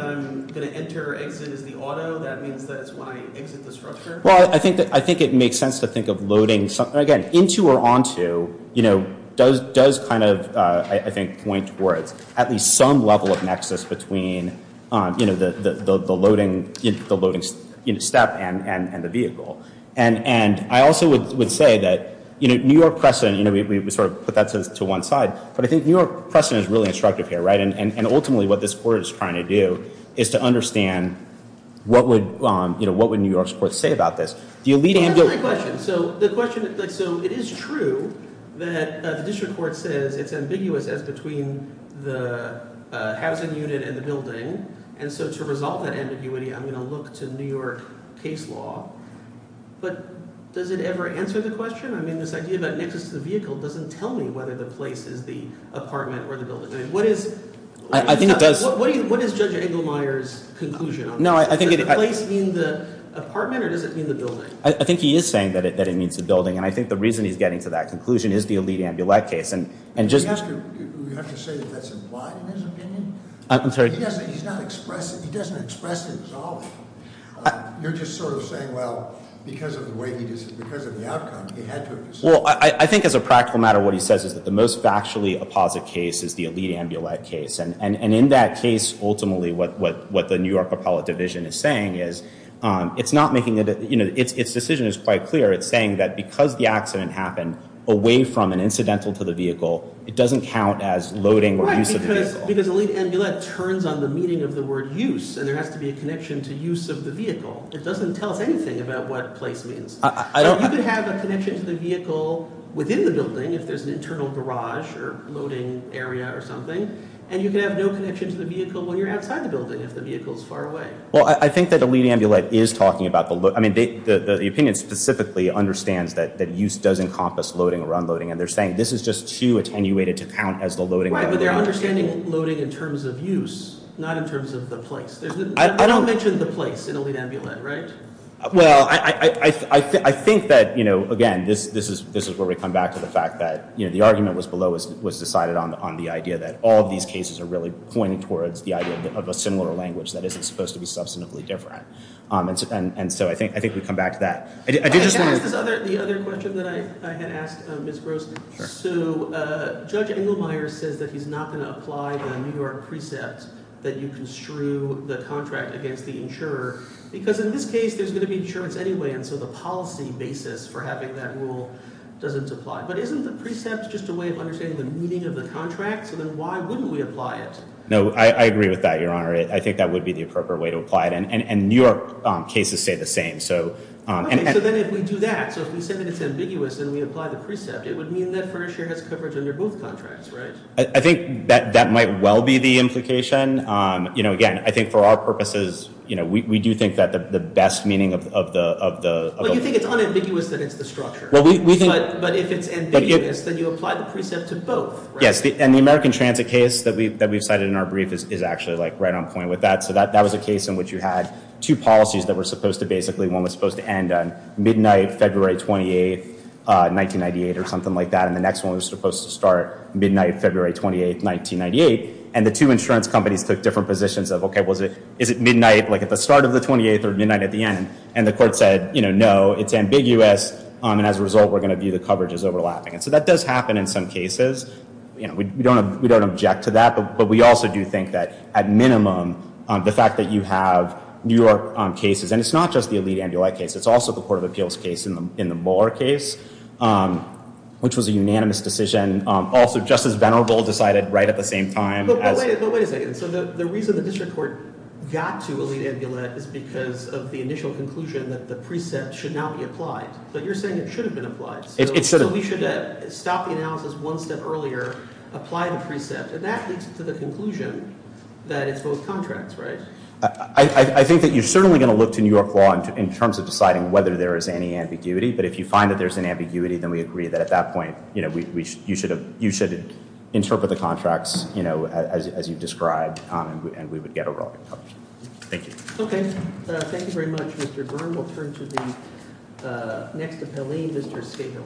I'm going to enter or exit as the auto, that means that it's when I exit the structure? Well, I think it makes sense to think of loading – again, into or onto, you know, does kind of, I think, point towards at least some level of nexus between, you know, the loading step and the vehicle. And I also would say that, you know, New York precedent – you know, we sort of put that to one side. But I think New York precedent is really instructive here, right? And ultimately what this court is trying to do is to understand what would, you know, what would New York's court say about this? That's my question. So the question – so it is true that the district court says it's ambiguous as between the housing unit and the building. And so to resolve that ambiguity, I'm going to look to New York case law. But does it ever answer the question? I mean, this idea about nexus to the vehicle doesn't tell me whether the place is the apartment or the building. I mean, what is – I think it does – What is Judge Engelmeyer's conclusion on that? No, I think it – Does the place mean the apartment or does it mean the building? I think he is saying that it means the building. And I think the reason he's getting to that conclusion is the elite amulet case. And just – You have to say that that's implied in his opinion. I'm sorry. He doesn't express it. He doesn't express it at all. You're just sort of saying, well, because of the way he – because of the outcome, he had to have said it. Well, I think as a practical matter, what he says is that the most factually apposite case is the elite amulet case. And in that case, ultimately, what the New York appellate division is saying is it's not making – its decision is quite clear. It's saying that because the accident happened away from an incidental to the vehicle, it doesn't count as loading or use of the vehicle. Right, because elite amulet turns on the meaning of the word use. And there has to be a connection to use of the vehicle. It doesn't tell us anything about what place means. You can have a connection to the vehicle within the building if there's an internal garage or loading area or something, and you can have no connection to the vehicle when you're outside the building if the vehicle is far away. Well, I think that elite amulet is talking about the – I mean, the opinion specifically understands that use does encompass loading or unloading. And they're saying this is just too attenuated to count as the loading or unloading. Right, but they're understanding loading in terms of use, not in terms of the place. I don't mention the place in elite amulet, right? Well, I think that, you know, again, this is where we come back to the fact that, you know, the argument was below was decided on the idea that all of these cases are really pointing towards the idea of a similar language that isn't supposed to be substantively different. And so I think we come back to that. I did just want to – Can I ask the other question that I had asked Ms. Gross? Sure. So Judge Engelmeyer says that he's not going to apply the New York precept that you construe the contract against the insurer because in this case there's going to be insurance anyway, and so the policy basis for having that rule doesn't apply. But isn't the precept just a way of understanding the meaning of the contract? So then why wouldn't we apply it? No, I agree with that, Your Honor. I think that would be the appropriate way to apply it. And New York cases say the same. Okay, so then if we do that, so if we say that it's ambiguous and we apply the precept, it would mean that furniture has coverage under both contracts, right? I think that might well be the implication. Again, I think for our purposes we do think that the best meaning of the – But you think it's unambiguous that it's the structure. But if it's ambiguous, then you apply the precept to both, right? Yes, and the American Transit case that we've cited in our brief is actually right on point with that. So that was a case in which you had two policies that were supposed to basically – one was supposed to end on midnight February 28, 1998 or something like that, and the next one was supposed to start midnight February 28, 1998. And the two insurance companies took different positions of, okay, is it midnight, like at the start of the 28th or midnight at the end? And the court said, you know, no, it's ambiguous, and as a result we're going to view the coverage as overlapping. And so that does happen in some cases. You know, we don't object to that, but we also do think that at minimum the fact that you have New York cases – and it's not just the Elite Ambulight case. It's also the Court of Appeals case in the Mueller case, which was a unanimous decision. Also, Justice Venerable decided right at the same time as – But wait a second. So the reason the district court got to Elite Ambulight is because of the initial conclusion that the precept should now be applied. But you're saying it should have been applied. It should have. So we should have stopped the analysis one step earlier, applied the precept, and that leads to the conclusion that it's both contracts, right? I think that you're certainly going to look to New York law in terms of deciding whether there is any ambiguity, but if you find that there's an ambiguity, then we agree that at that point you should interpret the contracts as you've described and we would get a rolling coverage. Thank you. Okay. Thank you very much, Mr. Byrne. We'll turn to the next appellee, Mr. Scahill.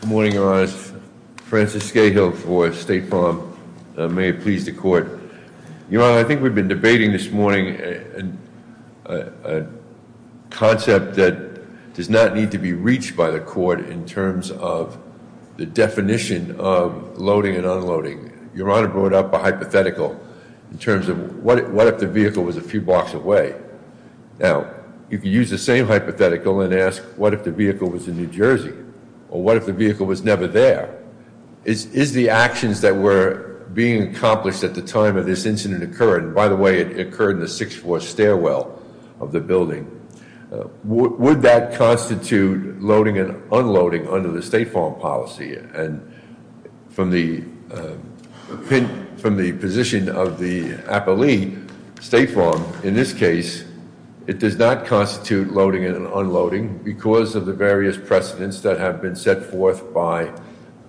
Good morning, Your Honor. May it please the Court. Your Honor, I think we've been debating this morning a concept that does not need to be reached by the Court in terms of the definition of loading and unloading. Your Honor brought up a hypothetical in terms of what if the vehicle was a few blocks away. Now, you could use the same hypothetical and ask what if the vehicle was in New Jersey or what if the vehicle was never there. Is the actions that were being accomplished at the time of this incident occurring, by the way it occurred in the sixth floor stairwell of the building, would that constitute loading and unloading under the State Farm policy? And from the position of the appellee, State Farm in this case, it does not constitute loading and unloading because of the various precedents that have been set forth by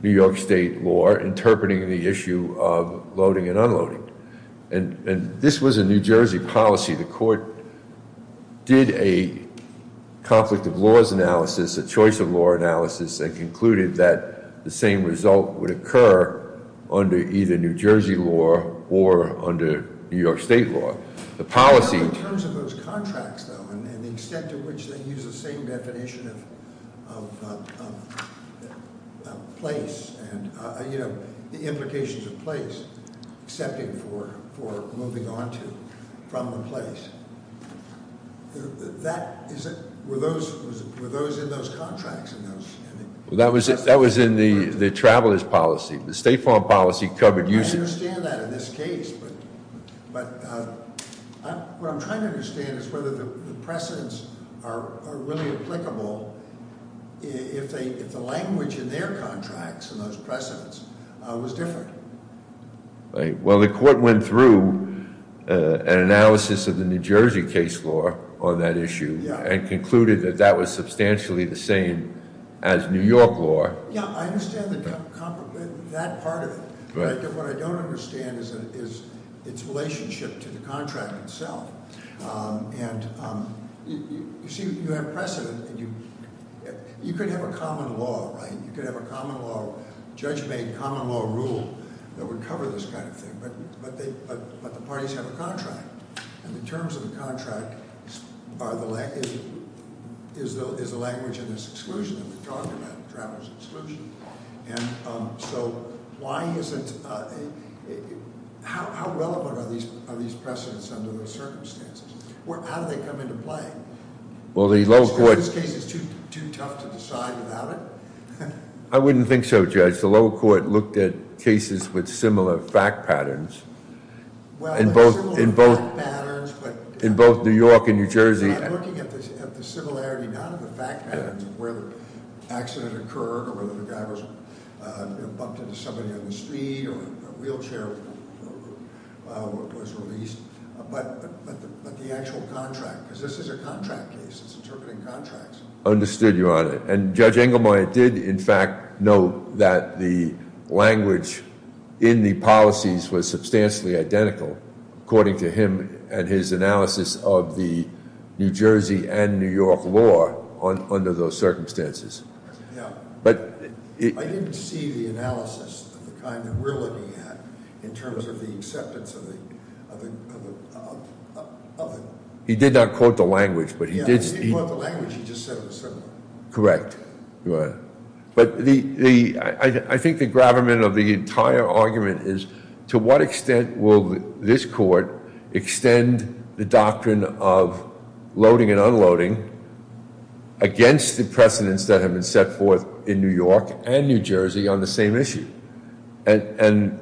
New York State law interpreting the issue of loading and unloading. And this was a New Jersey policy. The Court did a conflict of laws analysis, a choice of law analysis, and concluded that the same result would occur under either New Jersey law or under New York State law. The policy- In terms of those contracts, though, and the extent to which they use the same definition of place, and the implications of place, excepting for moving onto from a place. Were those in those contracts? That was in the traveler's policy. The State Farm policy covered- I understand that in this case, but what I'm trying to understand is whether the precedents are really applicable if the language in their contracts and those precedents was different. Well, the Court went through an analysis of the New Jersey case law on that issue and concluded that that was substantially the same as New York law. Yeah, I understand that part of it. But what I don't understand is its relationship to the contract itself. And you see, you have precedent. You could have a common law, right? You could have a common law, judge-made common law rule that would cover this kind of thing. But the parties have a contract. And the terms of the contract is the language in this exclusion that we're talking about, traveler's exclusion. And so why isn't- how relevant are these precedents under those circumstances? How do they come into play? Well, the lower court- So this case is too tough to decide without it? I wouldn't think so, judge. The lower court looked at cases with similar fact patterns. In both New York and New Jersey- I'm looking at the similarity not of the fact patterns of where the accident occurred or whether the guy was bumped into somebody on the street or a wheelchair was released, but the actual contract, because this is a contract case. It's interpreting contracts. Understood, Your Honor. And Judge Engelmeyer did, in fact, note that the language in the policies was substantially identical, according to him and his analysis of the New Jersey and New York law under those circumstances. Yeah. But- I didn't see the analysis of the kind that we're looking at in terms of the acceptance of the- He did not quote the language, but he did- Correct, Your Honor. But I think the gravamen of the entire argument is to what extent will this court extend the doctrine of loading and unloading against the precedents that have been set forth in New York and New Jersey on the same issue? And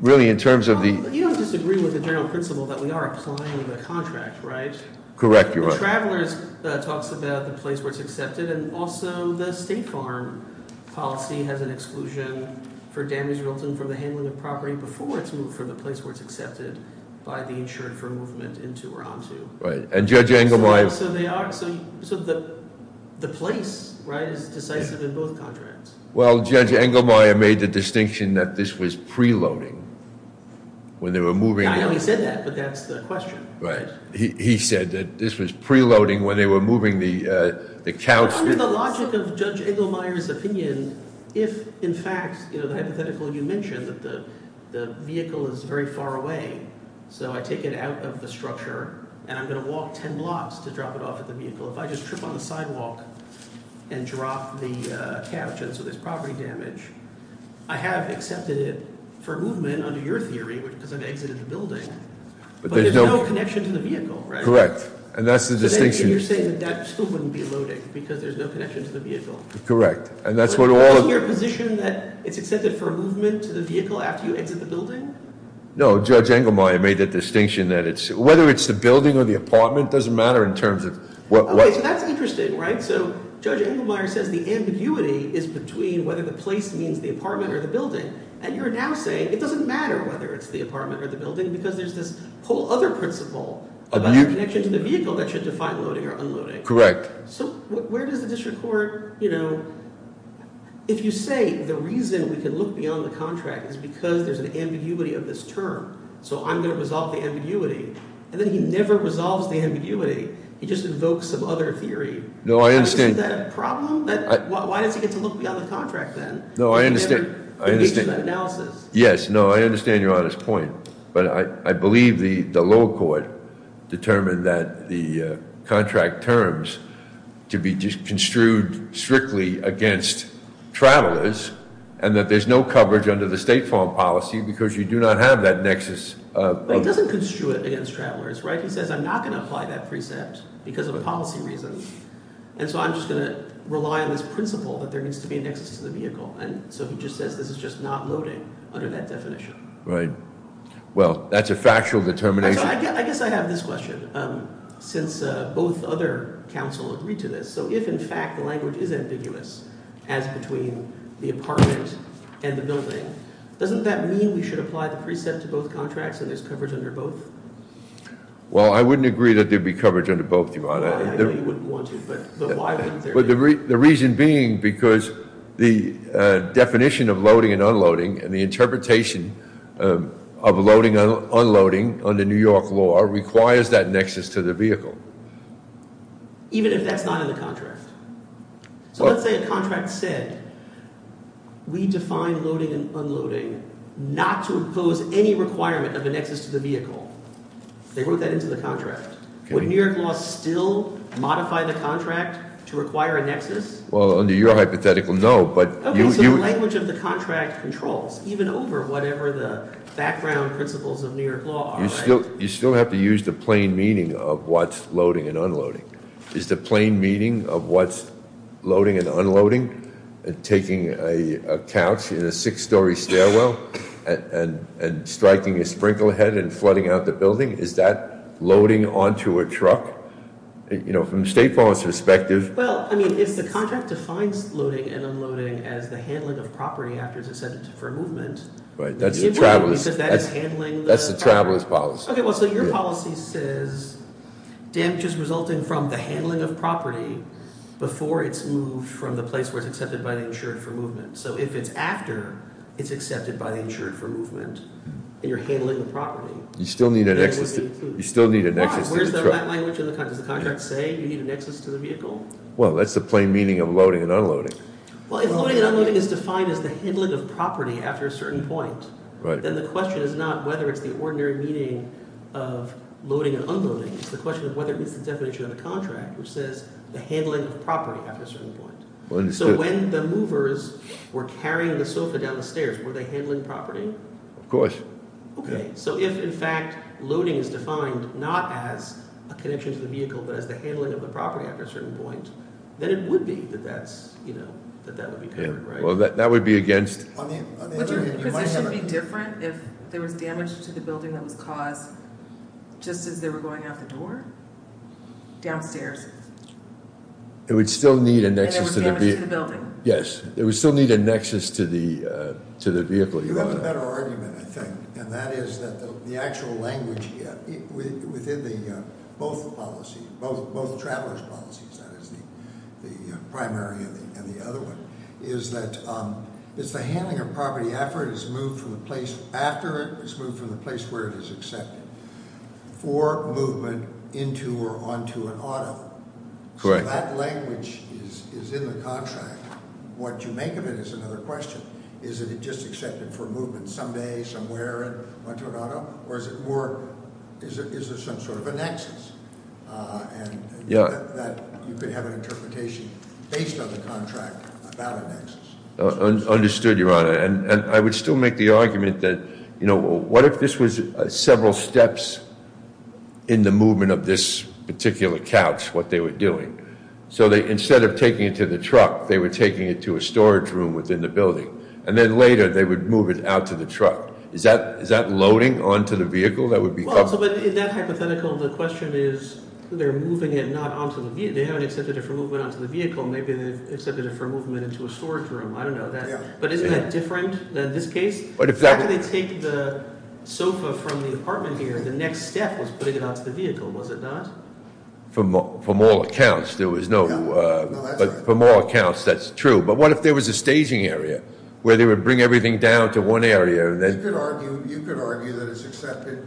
really in terms of the- You don't disagree with the general principle that we are applying the contract, right? Correct, Your Honor. The Travelers talks about the place where it's accepted, and also the State Farm policy has an exclusion for damage built in from the handling of property before it's moved from the place where it's accepted by the insured firm movement into or onto. Right, and Judge Engelmeyer- So the place, right, is decisive in both contracts. Well, Judge Engelmeyer made the distinction that this was preloading when they were moving- I know he said that, but that's the question. Right, he said that this was preloading when they were moving the couch- Under the logic of Judge Engelmeyer's opinion, if, in fact, the hypothetical you mentioned, that the vehicle is very far away, so I take it out of the structure, and I'm going to walk 10 blocks to drop it off at the vehicle. If I just trip on the sidewalk and drop the couch, and so there's property damage, I have accepted it for movement under your theory because I've exited the building. But there's no connection to the vehicle, right? Correct, and that's the distinction- So then you're saying that that still wouldn't be loading because there's no connection to the vehicle. Correct, and that's what all- But isn't your position that it's accepted for movement to the vehicle after you exit the building? No, Judge Engelmeyer made the distinction that it's- Whether it's the building or the apartment doesn't matter in terms of what- Okay, so that's interesting, right? So Judge Engelmeyer says the ambiguity is between whether the place means the apartment or the building, and you're now saying it doesn't matter whether it's the apartment or the building because there's this whole other principle about the connection to the vehicle that should define loading or unloading. Correct. So where does the district court, you know, if you say the reason we can look beyond the contract is because there's an ambiguity of this term, so I'm going to resolve the ambiguity, and then he never resolves the ambiguity. He just invokes some other theory. No, I understand. Is that a problem? Why does he get to look beyond the contract then? No, I understand. He makes an analysis. Yes, no, I understand your honest point, but I believe the lower court determined that the contract terms to be construed strictly against travelers and that there's no coverage under the state farm policy because you do not have that nexus of- But he doesn't construe it against travelers, right? He says I'm not going to apply that precept because of policy reasons, and so I'm just going to rely on this principle that there needs to be a nexus to the vehicle, and so he just says this is just not loading under that definition. Right. Well, that's a factual determination. I guess I have this question. Since both other counsel agree to this, so if in fact the language is ambiguous as between the apartment and the building, doesn't that mean we should apply the precept to both contracts and there's coverage under both? Well, I wouldn't agree that there'd be coverage under both, Your Honor. I know you wouldn't want to, but why wouldn't there be? The reason being because the definition of loading and unloading and the interpretation of loading and unloading under New York law requires that nexus to the vehicle. Even if that's not in the contract? So let's say a contract said we define loading and unloading not to impose any requirement of a nexus to the vehicle. They wrote that into the contract. Would New York law still modify the contract to require a nexus? Well, under your hypothetical, no, but- Okay, so the language of the contract controls, even over whatever the background principles of New York law are, right? You still have to use the plain meaning of what's loading and unloading. Is the plain meaning of what's loading and unloading taking a couch in a six-story stairwell and striking a sprinklehead and flooding out the building? Is that loading onto a truck? You know, from a state policy perspective- Well, I mean, if the contract defines loading and unloading as the handling of property after it's accepted for movement- Right, that's the traveler's policy. Okay, well, so your policy says damage is resulting from the handling of property before it's moved from the place where it's accepted by the insured for movement. So if it's after it's accepted by the insured for movement and you're handling the property- You still need a nexus to the truck. Why? Where's that language in the contract? Does the contract say you need a nexus to the vehicle? Well, that's the plain meaning of loading and unloading. Well, if loading and unloading is defined as the handling of property after a certain point, then the question is not whether it's the ordinary meaning of loading and unloading. It's the question of whether it meets the definition of a contract, which says the handling of property after a certain point. So when the movers were carrying the sofa down the stairs, were they handling property? Of course. Okay, so if, in fact, loading is defined not as a connection to the vehicle, but as the handling of the property after a certain point, then it would be that that would be covered, right? Well, that would be against- Would your position be different if there was damage to the building that was caused just as they were going out the door? Downstairs? It would still need a nexus to the vehicle. And there was damage to the building. Yes. It would still need a nexus to the vehicle. You have a better argument, I think, and that is that the actual language within both the travelers' policies, that is the primary and the other one, is that it's the handling of property after it has moved from the place- Correct. So that language is in the contract. What you make of it is another question. Is it just accepted for movement some day, somewhere in Monterrado? Or is it more, is there some sort of a nexus? And that you could have an interpretation based on the contract about a nexus. Understood, Your Honor. And I would still make the argument that, you know, what if this was several steps in the movement of this particular couch, what they were doing? So instead of taking it to the truck, they were taking it to a storage room within the building. And then later, they would move it out to the truck. Is that loading onto the vehicle that would be covered? Well, so in that hypothetical, the question is they're moving it not onto the vehicle. They haven't accepted it for movement onto the vehicle. Maybe they've accepted it for movement into a storage room. I don't know. But isn't that different in this case? After they take the sofa from the apartment here, the next step was putting it onto the vehicle, was it not? From all accounts, there was no. No, that's right. But from all accounts, that's true. But what if there was a staging area where they would bring everything down to one area and then- You could argue that it's accepted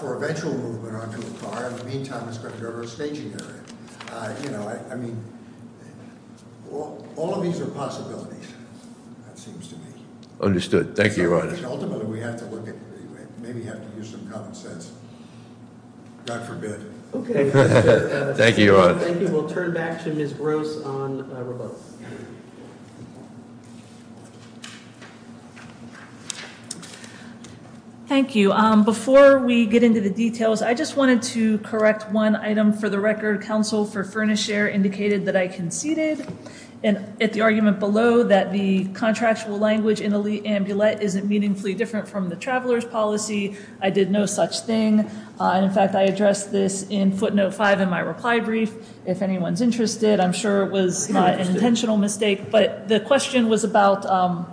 for eventual movement onto a car. In the meantime, it's going to go to a staging area. I mean, all of these are possibilities, it seems to me. Understood. Thank you, Your Honor. Ultimately, we have to look at- maybe have to use some common sense. God forbid. Okay. Thank you, Your Honor. Thank you. We'll turn back to Ms. Gross on rebuttal. Thank you. Before we get into the details, I just wanted to correct one item for the record. Counsel for Furnish Air indicated that I conceded at the argument below that the contractual language in elite amulet isn't meaningfully different from the traveler's policy. I did no such thing. In fact, I addressed this in footnote 5 in my reply brief. I'm sure it was an intentional mistake. But the question was about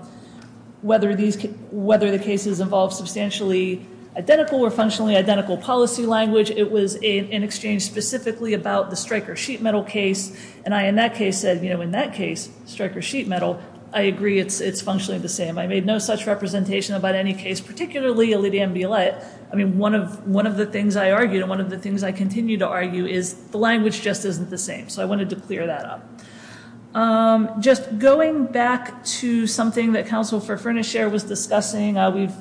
whether the cases involved substantially identical or functionally identical policy language. It was in exchange specifically about the striker sheet metal case. And I, in that case, said, you know, in that case, striker sheet metal, I agree it's functionally the same. I made no such representation about any case, particularly elite amulet. I mean, one of the things I argued and one of the things I continue to argue is the language just isn't the same. So I wanted to clear that up. Just going back to something that Counsel for Furnish Air was discussing,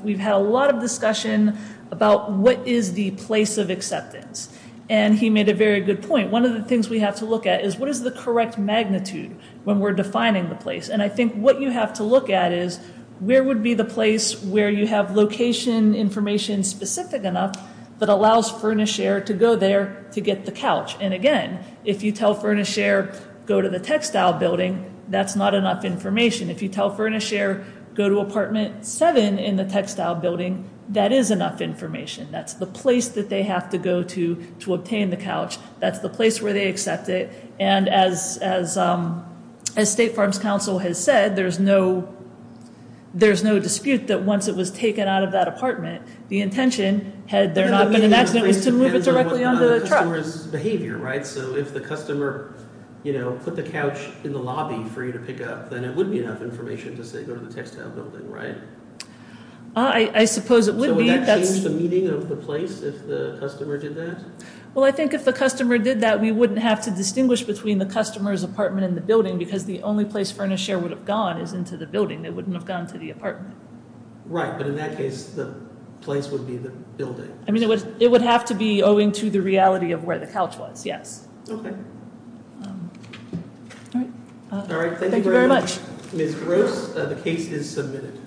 we've had a lot of discussion about what is the place of acceptance. And he made a very good point. One of the things we have to look at is what is the correct magnitude when we're defining the place. And I think what you have to look at is where would be the place where you have location information specific enough that allows Furnish Air to go there to get the couch. And again, if you tell Furnish Air go to the textile building, that's not enough information. If you tell Furnish Air go to apartment 7 in the textile building, that is enough information. That's the place that they have to go to to obtain the couch. That's the place where they accept it. And as State Farms Council has said, there's no dispute that once it was taken out of that apartment, the intention, had there not been an accident, was to move it directly on the truck. So if the customer put the couch in the lobby for you to pick up, then it would be enough information to say go to the textile building, right? I suppose it would be. So would that change the meaning of the place if the customer did that? Well, I think if the customer did that, we wouldn't have to distinguish between the customer's apartment in the building because the only place Furnish Air would have gone is into the building. They wouldn't have gone to the apartment. Right. But in that case, the place would be the building. I mean, it would have to be owing to the reality of where the couch was. Yes. OK. All right. All right. Thank you very much. Ms. Gross, the case is submitted.